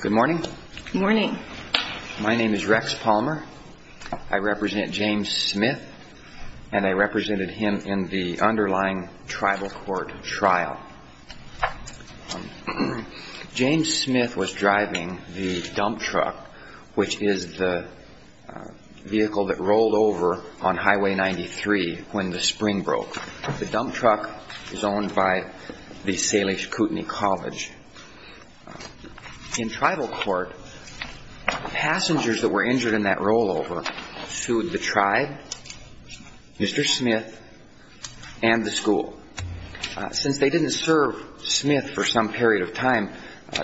Good morning. My name is Rex Palmer. I represent James Smith and I represented him in the underlying tribal court trial. James Smith was driving the dump truck, which is the vehicle that drove him to Salish Kootenai College. In tribal court, passengers that were injured in that rollover sued the tribe, Mr. Smith, and the school. Since they didn't serve Smith for some period of time,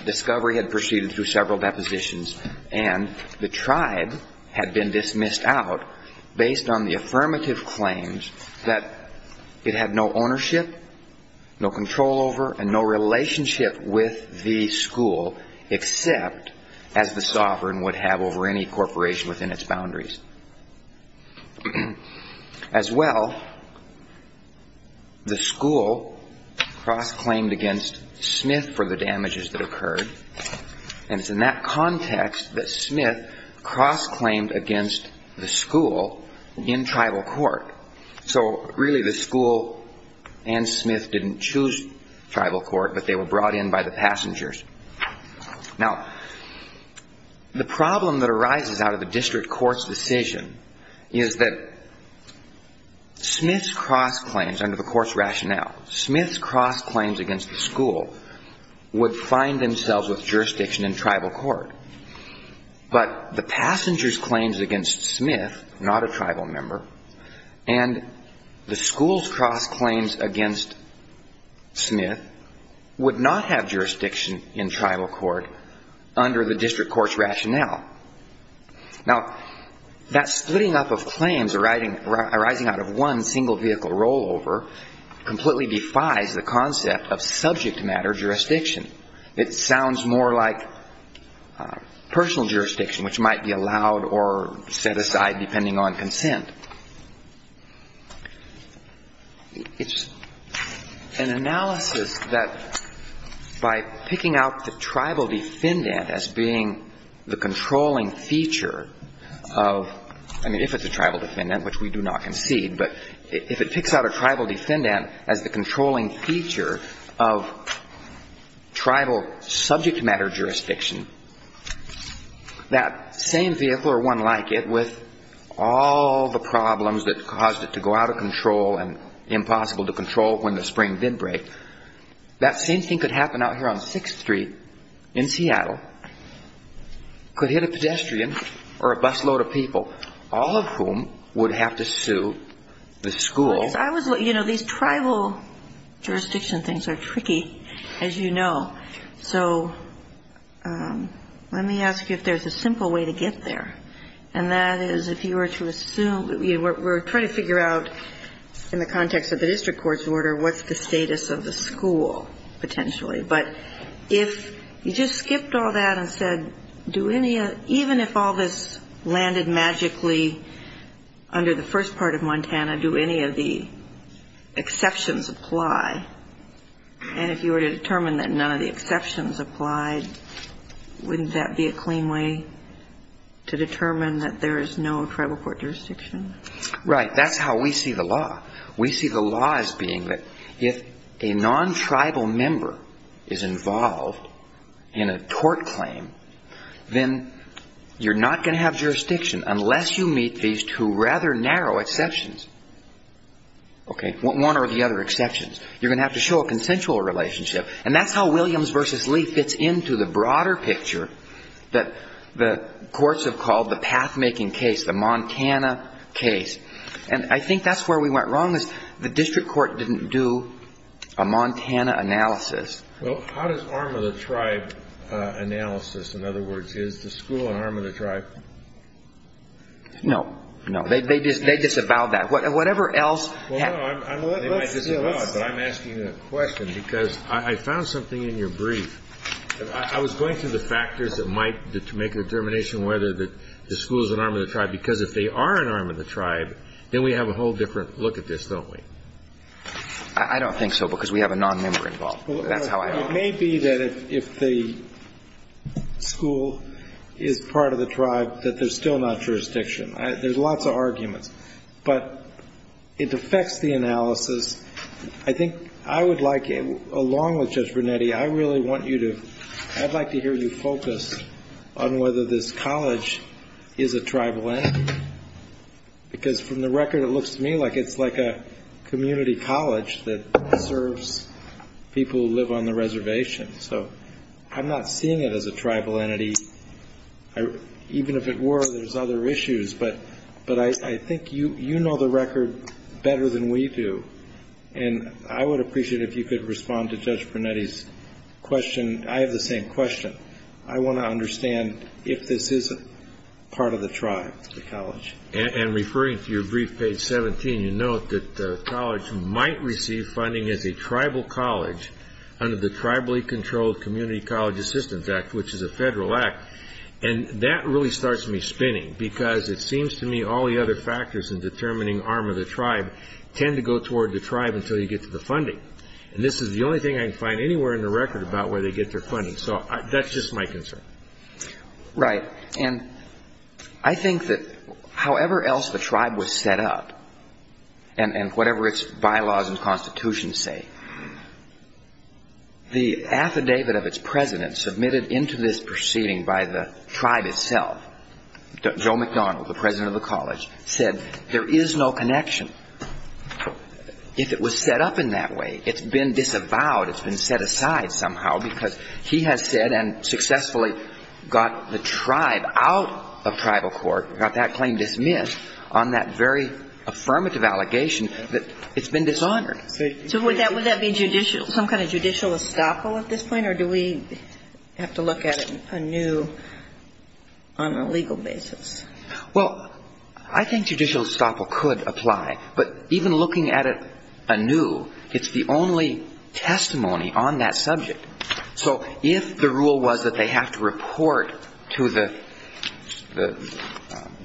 discovery had proceeded through several depositions and the tribe had been dismissed out based on the affirmative claims that it had no ownership, no control over, and no relationship with the school, except as the sovereign would have over any corporation within its boundaries. As well, the school cross-claimed against Smith for the damages that occurred, and it's in that context that Smith cross-claimed against the tribal court. So really, the school and Smith didn't choose tribal court, but they were brought in by the passengers. Now, the problem that arises out of the district court's decision is that Smith's cross-claims under the court's rationale, Smith's cross-claims against the school would find themselves with jurisdiction in tribal court. But the passengers' claims against Smith, not a tribal member, and the school's cross-claims against Smith would not have jurisdiction in tribal court under the district court's rationale. Now, that splitting up of claims arising out of one single vehicle rollover completely defies the concept of subject matter jurisdiction. It sounds more like personal jurisdiction, which might be allowed or set aside depending on consent. It's an analysis that by picking out the tribal defendant as being the controlling feature of, I mean, if it's a tribal defendant, which we do not concede, but if it picks out a tribal defendant as the controlling feature of tribal subject matter jurisdiction, that same vehicle or one like it with all the problems that caused it to go out of control and impossible to control when the spring did break, that same thing could happen out here on 6th Street in Seattle, could hit a pedestrian or a busload of people, all of whom would have to sue the school. I was, you know, these tribal jurisdiction things are tricky, as you know. So let me ask you if there's a simple way to get there, and that is if you were to assume, we're trying to figure out in the context of the district court's order what's the status of the school potentially. But if you just skipped all that and said, do any, even if all this landed magically under the first part of Montana, do any of the exceptions apply? And if you were to determine that none of the exceptions applied, wouldn't that be a clean way to determine that there is no tribal court jurisdiction? Right. That's how we see the law. We see the law as being that if a non-tribal member is a non-tribal member, unless you meet these two rather narrow exceptions, okay, one or the other exceptions, you're going to have to show a consensual relationship. And that's how Williams v. Lee fits into the broader picture that the courts have called the pathmaking case, the Montana case. And I think that's where we went wrong, is the district court didn't do a Montana analysis. Well, how does arm of the tribe analysis, in other words, is the school an arm of the tribe? No. No. They disavow that. Whatever else they might disavow, but I'm asking a question because I found something in your brief. I was going through the factors that might make a determination whether the school is an arm of the tribe, because if they are an arm of the tribe, then we have a whole different look at this, don't we? I don't think so, because we have a non-member involved. That's how I look at it. It may be that if the school is part of the tribe, that there's still not jurisdiction. There's lots of arguments. But it affects the analysis. I think I would like, along with Judge Brunetti, I really want you to, I'd like to hear you focus on whether this is a community college that serves people who live on the reservation. So I'm not seeing it as a tribal entity. Even if it were, there's other issues. But I think you know the record better than we do. And I would appreciate if you could respond to Judge Brunetti's question. I have the same question. I want to understand if this is part of the tribe, the college. And referring to your brief page 17, you note that the college might receive funding as a tribal college under the Tribally Controlled Community College Assistance Act, which is a federal act. And that really starts me spinning, because it seems to me all the other factors in determining arm of the tribe tend to go toward the tribe until you get to the funding. And this is the only thing I can find anywhere in the record about where they get their funding. So that's just my concern. Right. And I think that however else the tribe was set up, and whatever its bylaws and constitution say, the affidavit of its president submitted into this proceeding by the tribe itself, Joe McDonald, the president of the college, said there is no connection. If it was set up in that way, it's been disavowed, it's been set aside somehow, because he has said and successfully got the tribe out of tribal court, got that claim dismissed on that very affirmative allegation, that it's been dishonored. So would that be some kind of judicial estoppel at this point, or do we have to look at it anew on a legal basis? Well, I think judicial estoppel could apply. But even looking at it anew, it's the only testimony on that subject. So if the rule was that they have to report to the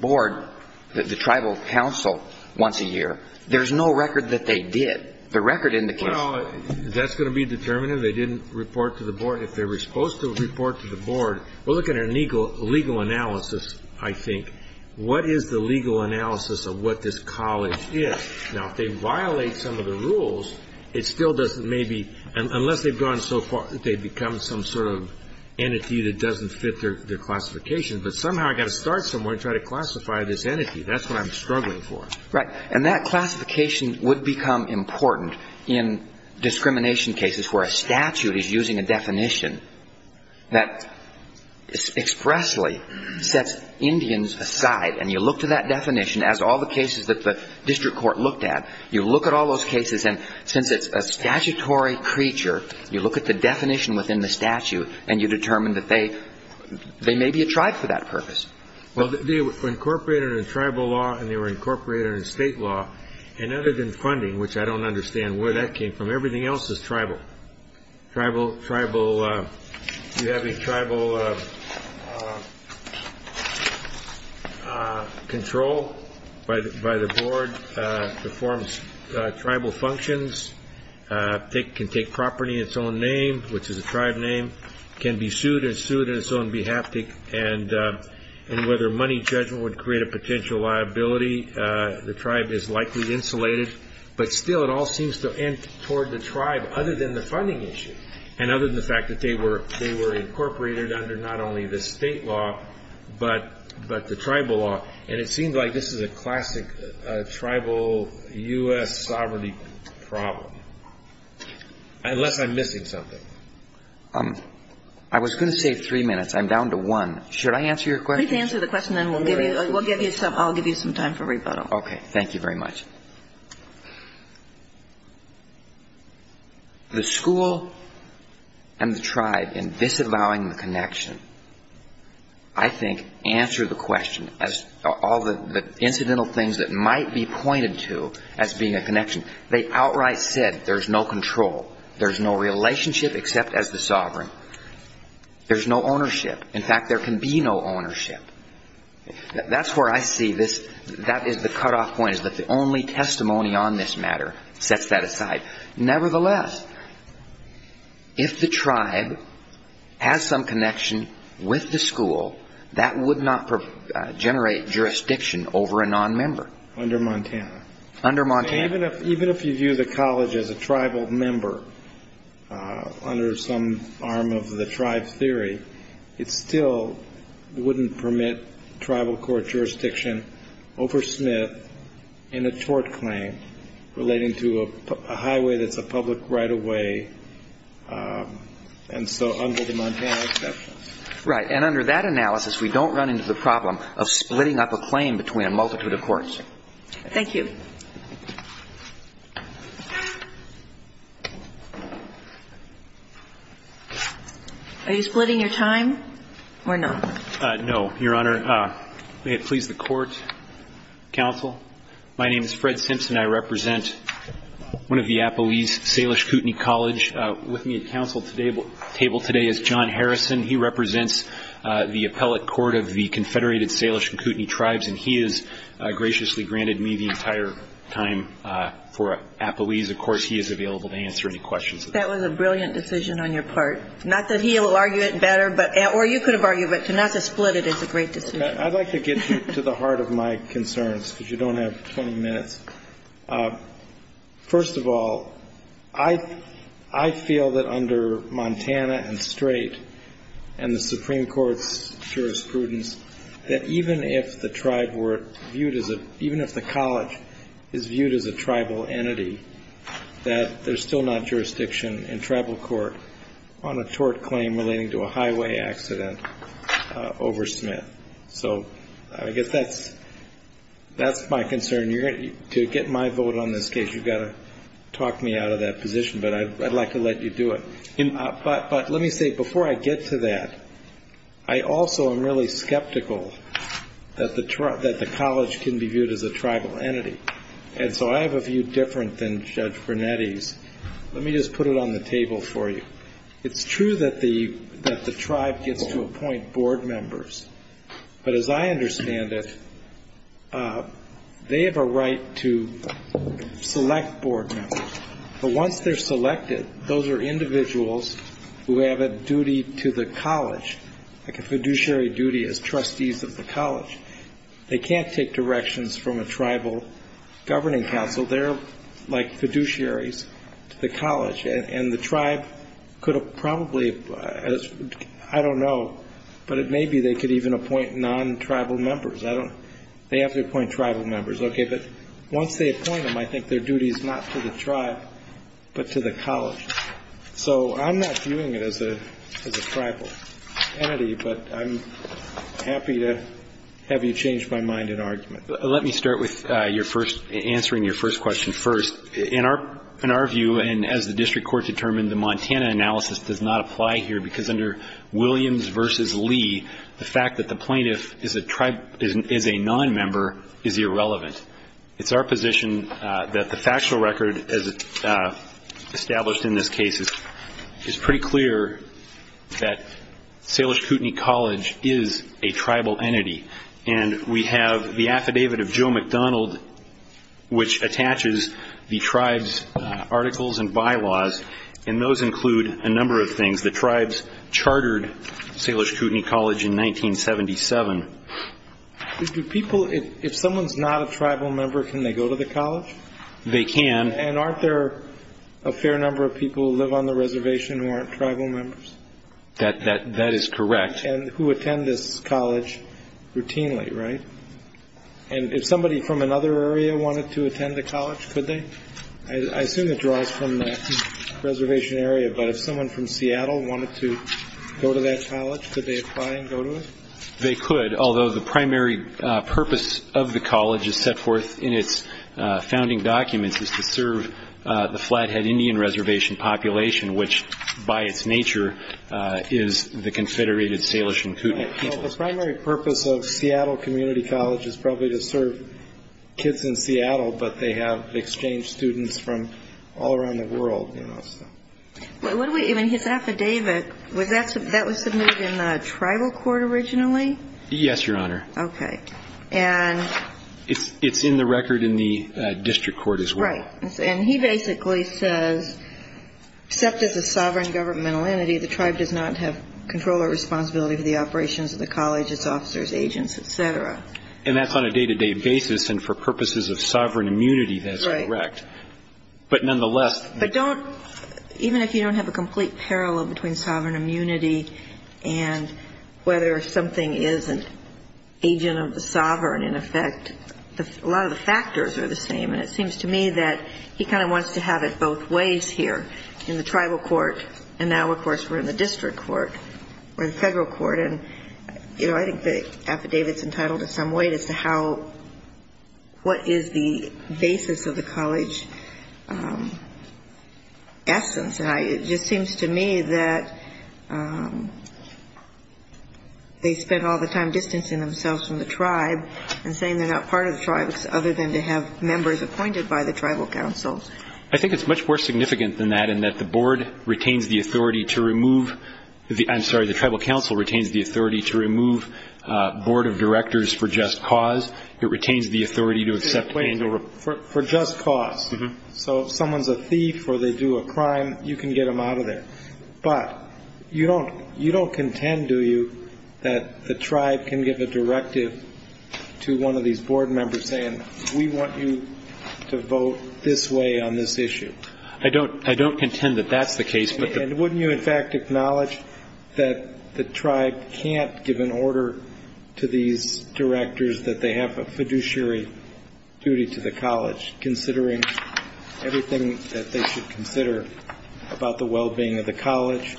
board, the tribal council, once a year, there's no record that they did. The record indicates that. Well, that's going to be determined if they didn't report to the board. If they were supposed to report to the board, we're looking at a legal analysis, I think. What is the legal analysis of what this college is? Now, if they violate some of the rules, it still doesn't maybe, unless they've gone so far, they've become some sort of entity that doesn't fit their classification. But somehow I've got to start somewhere and try to classify this entity. That's what I'm struggling for. Right. And that classification would become important in discrimination cases where a statute is using a definition that expressly sets Indians aside. And you look to that definition as all the cases that the district court looked at. You look at all those cases, and since it's a statutory creature, you look at the definition within the statute, and you determine that they may be a tribe for that purpose. Well, they were incorporated in tribal law, and they were incorporated in state law. And other than funding, which I don't understand where that came from, everything else is tribal. Tribal, tribal, you have a tribal control by the board, the forms, tribal functions, they can take property in its own name, which is a tribe name, can be sued and sued on its own behalf, and whether money judgment would create a potential liability, the tribe is likely insulated. But still, it all seems to end toward the tribe, other than the funding issue, and other than the fact that they were incorporated under not only the state law, but the tribal law. And it seems like this is a classic tribal U.S. sovereignty problem. Unless I'm missing something. I was going to say three minutes. I'm down to one. Should I answer your question? Please answer the question, and then we'll give you some time for rebuttal. Okay. Thank you very much. The school and the tribe in disavowing the connection, I think, answer the question, as all the incidental things that might be pointed to as being a connection. They outright said there's no control. There's no relationship except as the sovereign. There's no ownership. In fact, there can be no ownership. That's where I see this. That is the cutoff point, is that the only testimony on this matter sets that aside. Nevertheless, if the tribe has some connection with the school, that would not generate jurisdiction over a nonmember. Under Montana. Under Montana. Even if you view the college as a tribal member under some arm of the tribe theory, it still wouldn't permit tribal court jurisdiction over Smith in a tort claim relating to a highway that's a public right-of-way, and so under the Montana exception. Right. And under that analysis, we don't run into the problem of splitting up a claim between a multitude of courts. Thank you. Are you splitting your time or not? No, Your Honor. May it please the court, counsel. My name is Fred Simpson. I represent one of the Apoese Salish Kootenai College. With me at the table today is John Harrison. He represents the appellate court of the Confederated Salish Kootenai Tribes, and he has graciously granted me the entire time for Apoese. Of course, he is available to answer any questions. That was a brilliant decision on your part. Not that he will argue it better, or you could have argued it, but not to split it is a great decision. I'd like to get you to the heart of my concerns, because you don't have 20 minutes. First of all, I feel that under Montana and straight, and the Supreme Court's jurisprudence, that even if the tribe were viewed as a, even if the college is viewed as a tribal entity, that there's still not jurisdiction in tribal court on a tort claim relating to a highway accident over Smith. So I guess that's my concern. To get my vote on this case, you've got to talk me out of that position, but I'd like to let you do it. But let me say, before I get to that, I also am really skeptical that the college can be viewed as a tribal entity. And so I have a view different than Judge Brunetti's. Let me just put it on the table for you. It's true that the tribe gets to appoint board members, but as I understand it, they have a right to select the members of the tribe as board members. But once they're selected, those are individuals who have a duty to the college, like a fiduciary duty as trustees of the college. They can't take directions from a tribal governing council. They're like fiduciaries to the college. And the tribe could have probably, I don't know, but it may be they could even appoint non-tribal members. They have to appoint tribal members. Okay, but once they appoint them, I think their duty is not to the tribe, but to the college. So I'm not viewing it as a tribal entity, but I'm happy to have you change my mind in argument. Let me start with your first, answering your first question first. In our view, and as the district court determined, the Montana analysis does not apply here, because under Williams v. Lee, the fact that the plaintiff is a tribe, is a non-member, is irrelevant. It's our position that the factual record, as established in this case, is pretty clear that Salish Kootenai College is a tribal entity. And we have the affidavit of Joe McDonald, which attaches the tribe's articles and bylaws, and those include a number of things. The tribes chartered Salish Kootenai College in 1977. Do people, if someone's not a tribal member, can they go to the college? They can. And aren't there a fair number of people who live on the reservation who aren't tribal members? That is correct. And who attend this college routinely, right? And if somebody from another area wanted to attend the college, could they? I assume it draws from the reservation area, but if someone from Seattle wanted to go to that college, could they apply and go to it? They could, although the primary purpose of the college is set forth in its founding documents is to serve the Flathead Indian Reservation population, which, by its nature, is the Confederated Salish and Kootenai people. The primary purpose of Seattle Community College is probably to serve kids in Seattle, but they have exchange students from all around the world, you know, so. What do we, even his affidavit, was that, that was submitted in the tribal court originally? Yes, Your Honor. Okay. And... It's in the record in the district court as well. Right. And he basically says, except as a sovereign governmental entity, the tribe does not have control or responsibility for the operations of the college, its officers, agents, et cetera. And that's on a day-to-day basis, and for purposes of sovereign immunity, that's correct. Right. But nonetheless... But don't, even if you don't have a complete parallel between sovereign immunity and whether something is an agent of the sovereign, in effect, a lot of the factors are the same, and it seems to me that he kind of wants to have it both ways here, in the tribal court, and now, of course, we're in the district court, or the federal court, and, you know, I think the affidavit's entitled in some way as to how, what is the basis of the college essence. And it just seems to me that they spent all the time distancing themselves from the tribe and saying they're not part of the tribe other than to have members appointed by the tribal council. I think it's much more significant than that, in that the board retains the authority to remove, I'm sorry, the tribal council retains the authority to remove board of directors for just cause. It retains the authority to accept... For just cause. So if someone's a thief or they do a crime, you can get them out of there. But you don't contend, do you, that the tribe can give a directive to one of these board members saying, we want you to vote this way on this issue? I don't contend that that's the case. And wouldn't you, in fact, acknowledge that the tribe can't give an order to these directors that they have a fiduciary duty to the college, considering everything that they should consider about the well-being of the college,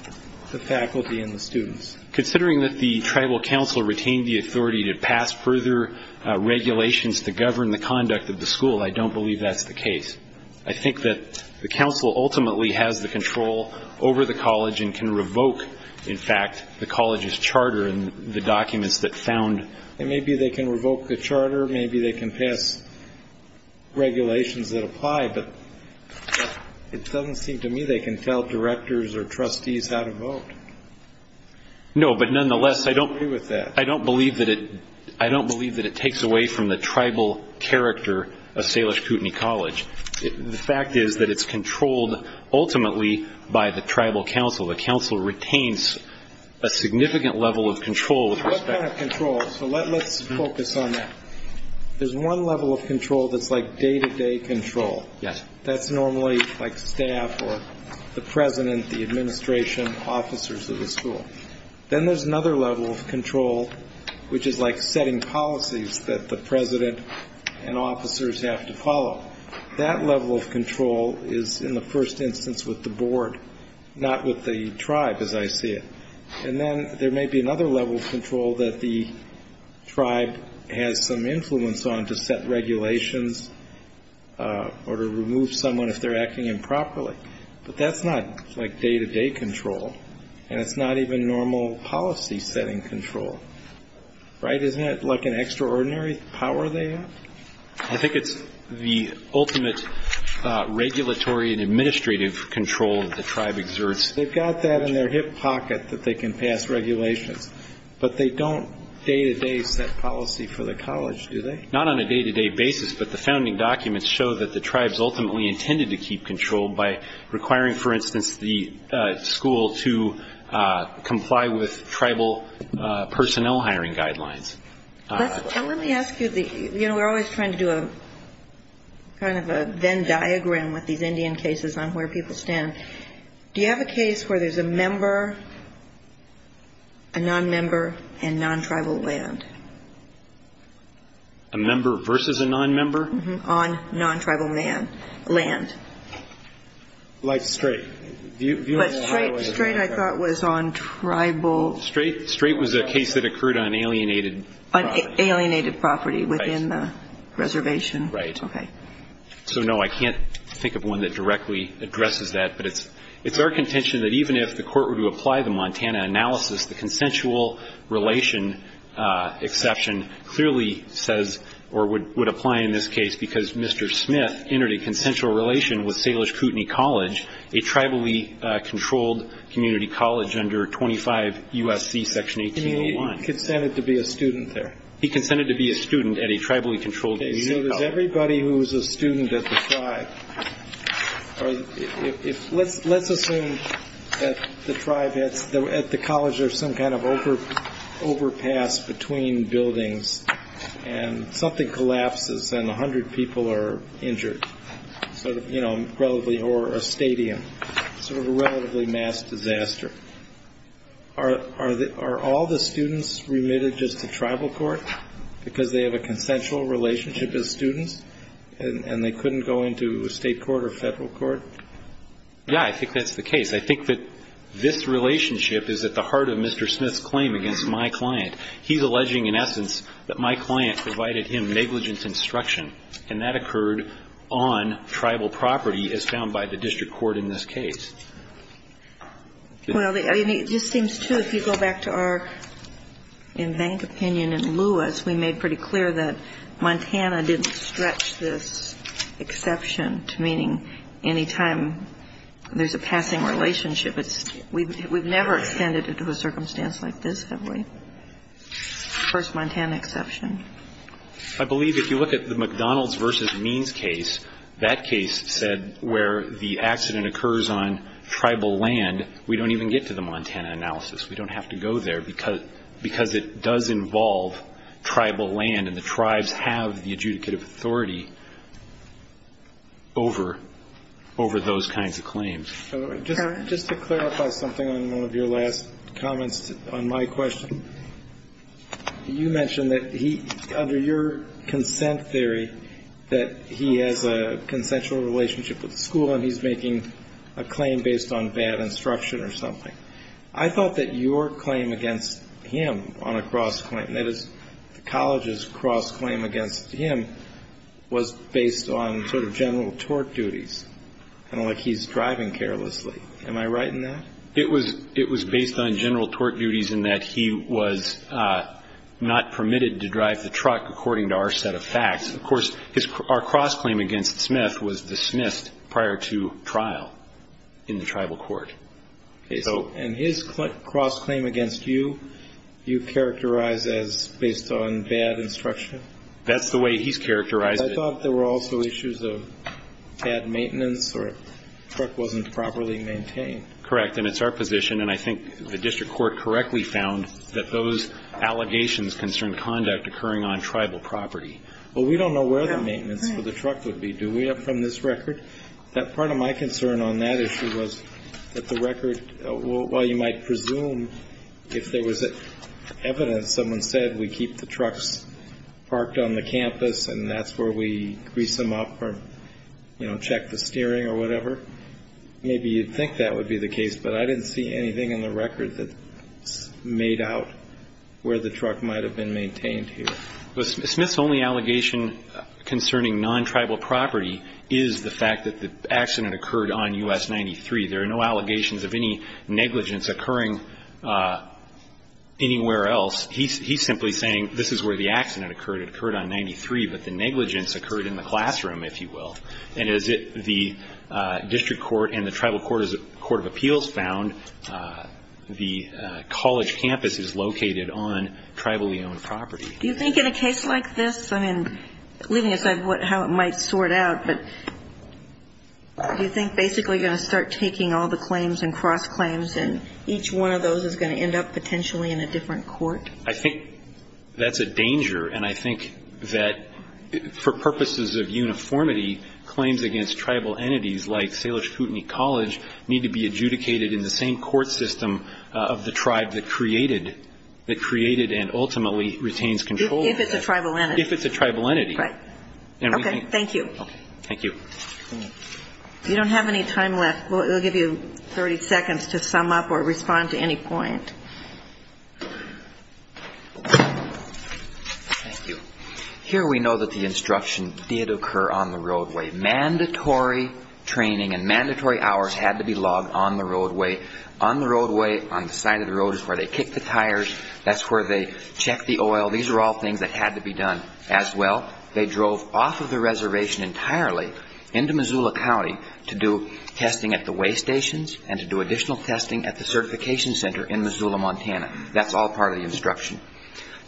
the faculty, and the students? Considering that the tribal council retained the authority to pass further regulations to govern the conduct of the school, I don't believe that's the case. I think that the council ultimately has the control over the college and can revoke, in fact, the college's charter and the documents that found... And maybe they can revoke the charter, maybe they can pass regulations that apply, but it doesn't seem to me they can tell directors or trustees how to vote. No, but nonetheless, I don't believe that it takes away from the tribal character of Salish Kootenai College. The fact is that it's controlled ultimately by the tribal council. The council retains a significant level of control with respect to... What kind of control? So let's focus on that. There's one level of control that's like day-to-day control. Yes. That's normally like staff or the president, the administration, officers of the school. Then there's another level of control, which is like setting policies that the president and officers have to follow. That level of control is in the first instance with the board, not with the tribe, as I see it. And then there may be another level of control that the tribe has some influence on to set regulations or to remove someone if they're acting improperly. But that's not like day-to-day control, and it's not even normal policy-setting control, right? Isn't that like an extraordinary power they have? I think it's the ultimate regulatory and administrative control that the tribe exerts. They've got that in their hip pocket that they can pass regulations, but they don't day-to-day set policy for the college, do they? Not on a day-to-day basis, but the founding documents show that the tribes ultimately intended to keep control by requiring, for instance, the school to comply with tribal personnel hiring guidelines. Let me ask you, you know, we're always trying to do kind of a Venn diagram with these Indian cases on where people stand. Do you have a case where there's a member, a non-member, and non-tribal land? A member versus a non-member? On non-tribal land. Like Strait. But Strait I thought was on tribal. Strait was a case that occurred on alienated property. Alienated property within the reservation. Right. Okay. So, no, I can't think of one that directly addresses that, but it's our contention that even if the court were to apply the Montana analysis, the consensual relation exception clearly says, or would apply in this case, because Mr. Smith entered a consensual relation with Salish Kootenai College, a tribally controlled community college under 25 U.S.C. Section 1801. He consented to be a student there. He consented to be a student at a tribally controlled community college. Okay, so there's everybody who's a student at the tribe. Let's assume that the tribe, at the college, there's some kind of overpass between buildings and something collapses and 100 people are injured, sort of, you know, relatively, or a stadium, sort of a relatively mass disaster. Are all the students remitted just to tribal court because they have a consensual relationship as students and they couldn't go into state court or federal court? Yeah, I think that's the case. I think that this relationship is at the heart of Mr. Smith's claim against my client. He's alleging, in essence, that my client provided him negligence instruction, and that occurred on tribal property as found by the district court in this case. Well, it just seems, too, if you go back to our in-bank opinion in Lewis, we made pretty clear that Montana didn't stretch this exception to meaning any time there's a passing relationship. We've never extended it to a circumstance like this, have we? First Montana exception. I believe if you look at the McDonald's v. Means case, that case said where the accident occurs on tribal land, we don't even get to the Montana analysis. We don't have to go there because it does involve tribal land, and the tribes have the adjudicative authority over those kinds of claims. Just to clarify something on one of your last comments on my question, you mentioned that under your consent theory that he has a consensual relationship with the school and he's making a claim based on bad instruction or something. I thought that your claim against him on a cross-claim, that is the college's cross-claim against him, was based on sort of general tort duties, kind of like he's driving carelessly. Am I right in that? It was based on general tort duties in that he was not permitted to drive the truck, according to our set of facts. Of course, our cross-claim against Smith was dismissed prior to trial in the tribal court. And his cross-claim against you, you characterize as based on bad instruction? That's the way he's characterized it. I thought there were also issues of bad maintenance or truck wasn't properly maintained. Correct. And it's our position, and I think the district court correctly found, that those allegations concern conduct occurring on tribal property. Well, we don't know where the maintenance for the truck would be, do we, from this record? Part of my concern on that issue was that the record, while you might presume if there was evidence, someone said we keep the trucks parked on the campus and that's where we grease them up or, you know, check the steering or whatever, maybe you'd think that would be the case, but I didn't see anything in the record that made out where the truck might have been maintained here. Smith's only allegation concerning non-tribal property is the fact that the accident occurred on U.S. 93. There are no allegations of any negligence occurring anywhere else. He's simply saying this is where the accident occurred. It occurred on 93, but the negligence occurred in the classroom, if you will. And as the district court and the tribal court of appeals found, the college campus is located on tribally owned property. Do you think in a case like this, I mean, leaving aside how it might sort out, but do you think basically you're going to start taking all the claims and cross claims and each one of those is going to end up potentially in a different court? I think that's a danger, and I think that for purposes of uniformity, claims against tribal entities like Salish Kootenai College need to be adjudicated in the same court system of the tribe that created and ultimately retains control of that. If it's a tribal entity. If it's a tribal entity. Right. Okay, thank you. Thank you. You don't have any time left. We'll give you 30 seconds to sum up or respond to any point. Thank you. Here we know that the instruction did occur on the roadway. Mandatory training and mandatory hours had to be logged on the roadway. On the roadway, on the side of the road is where they kick the tires. That's where they check the oil. These are all things that had to be done as well. They drove off of the reservation entirely into Missoula County to do testing at the way stations and to do additional testing at the certification center in Missoula, Montana. That's all part of the instruction.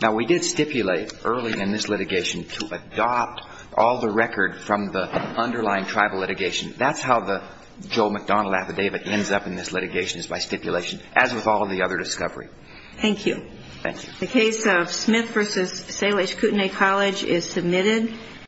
Now, we did stipulate early in this litigation to adopt all the record from the underlying tribal litigation. That's how the Joe McDonald affidavit ends up in this litigation is by stipulation, as with all of the other discovery. Thank you. Thank you. The case of Smith v. Salish Kootenai College is submitted.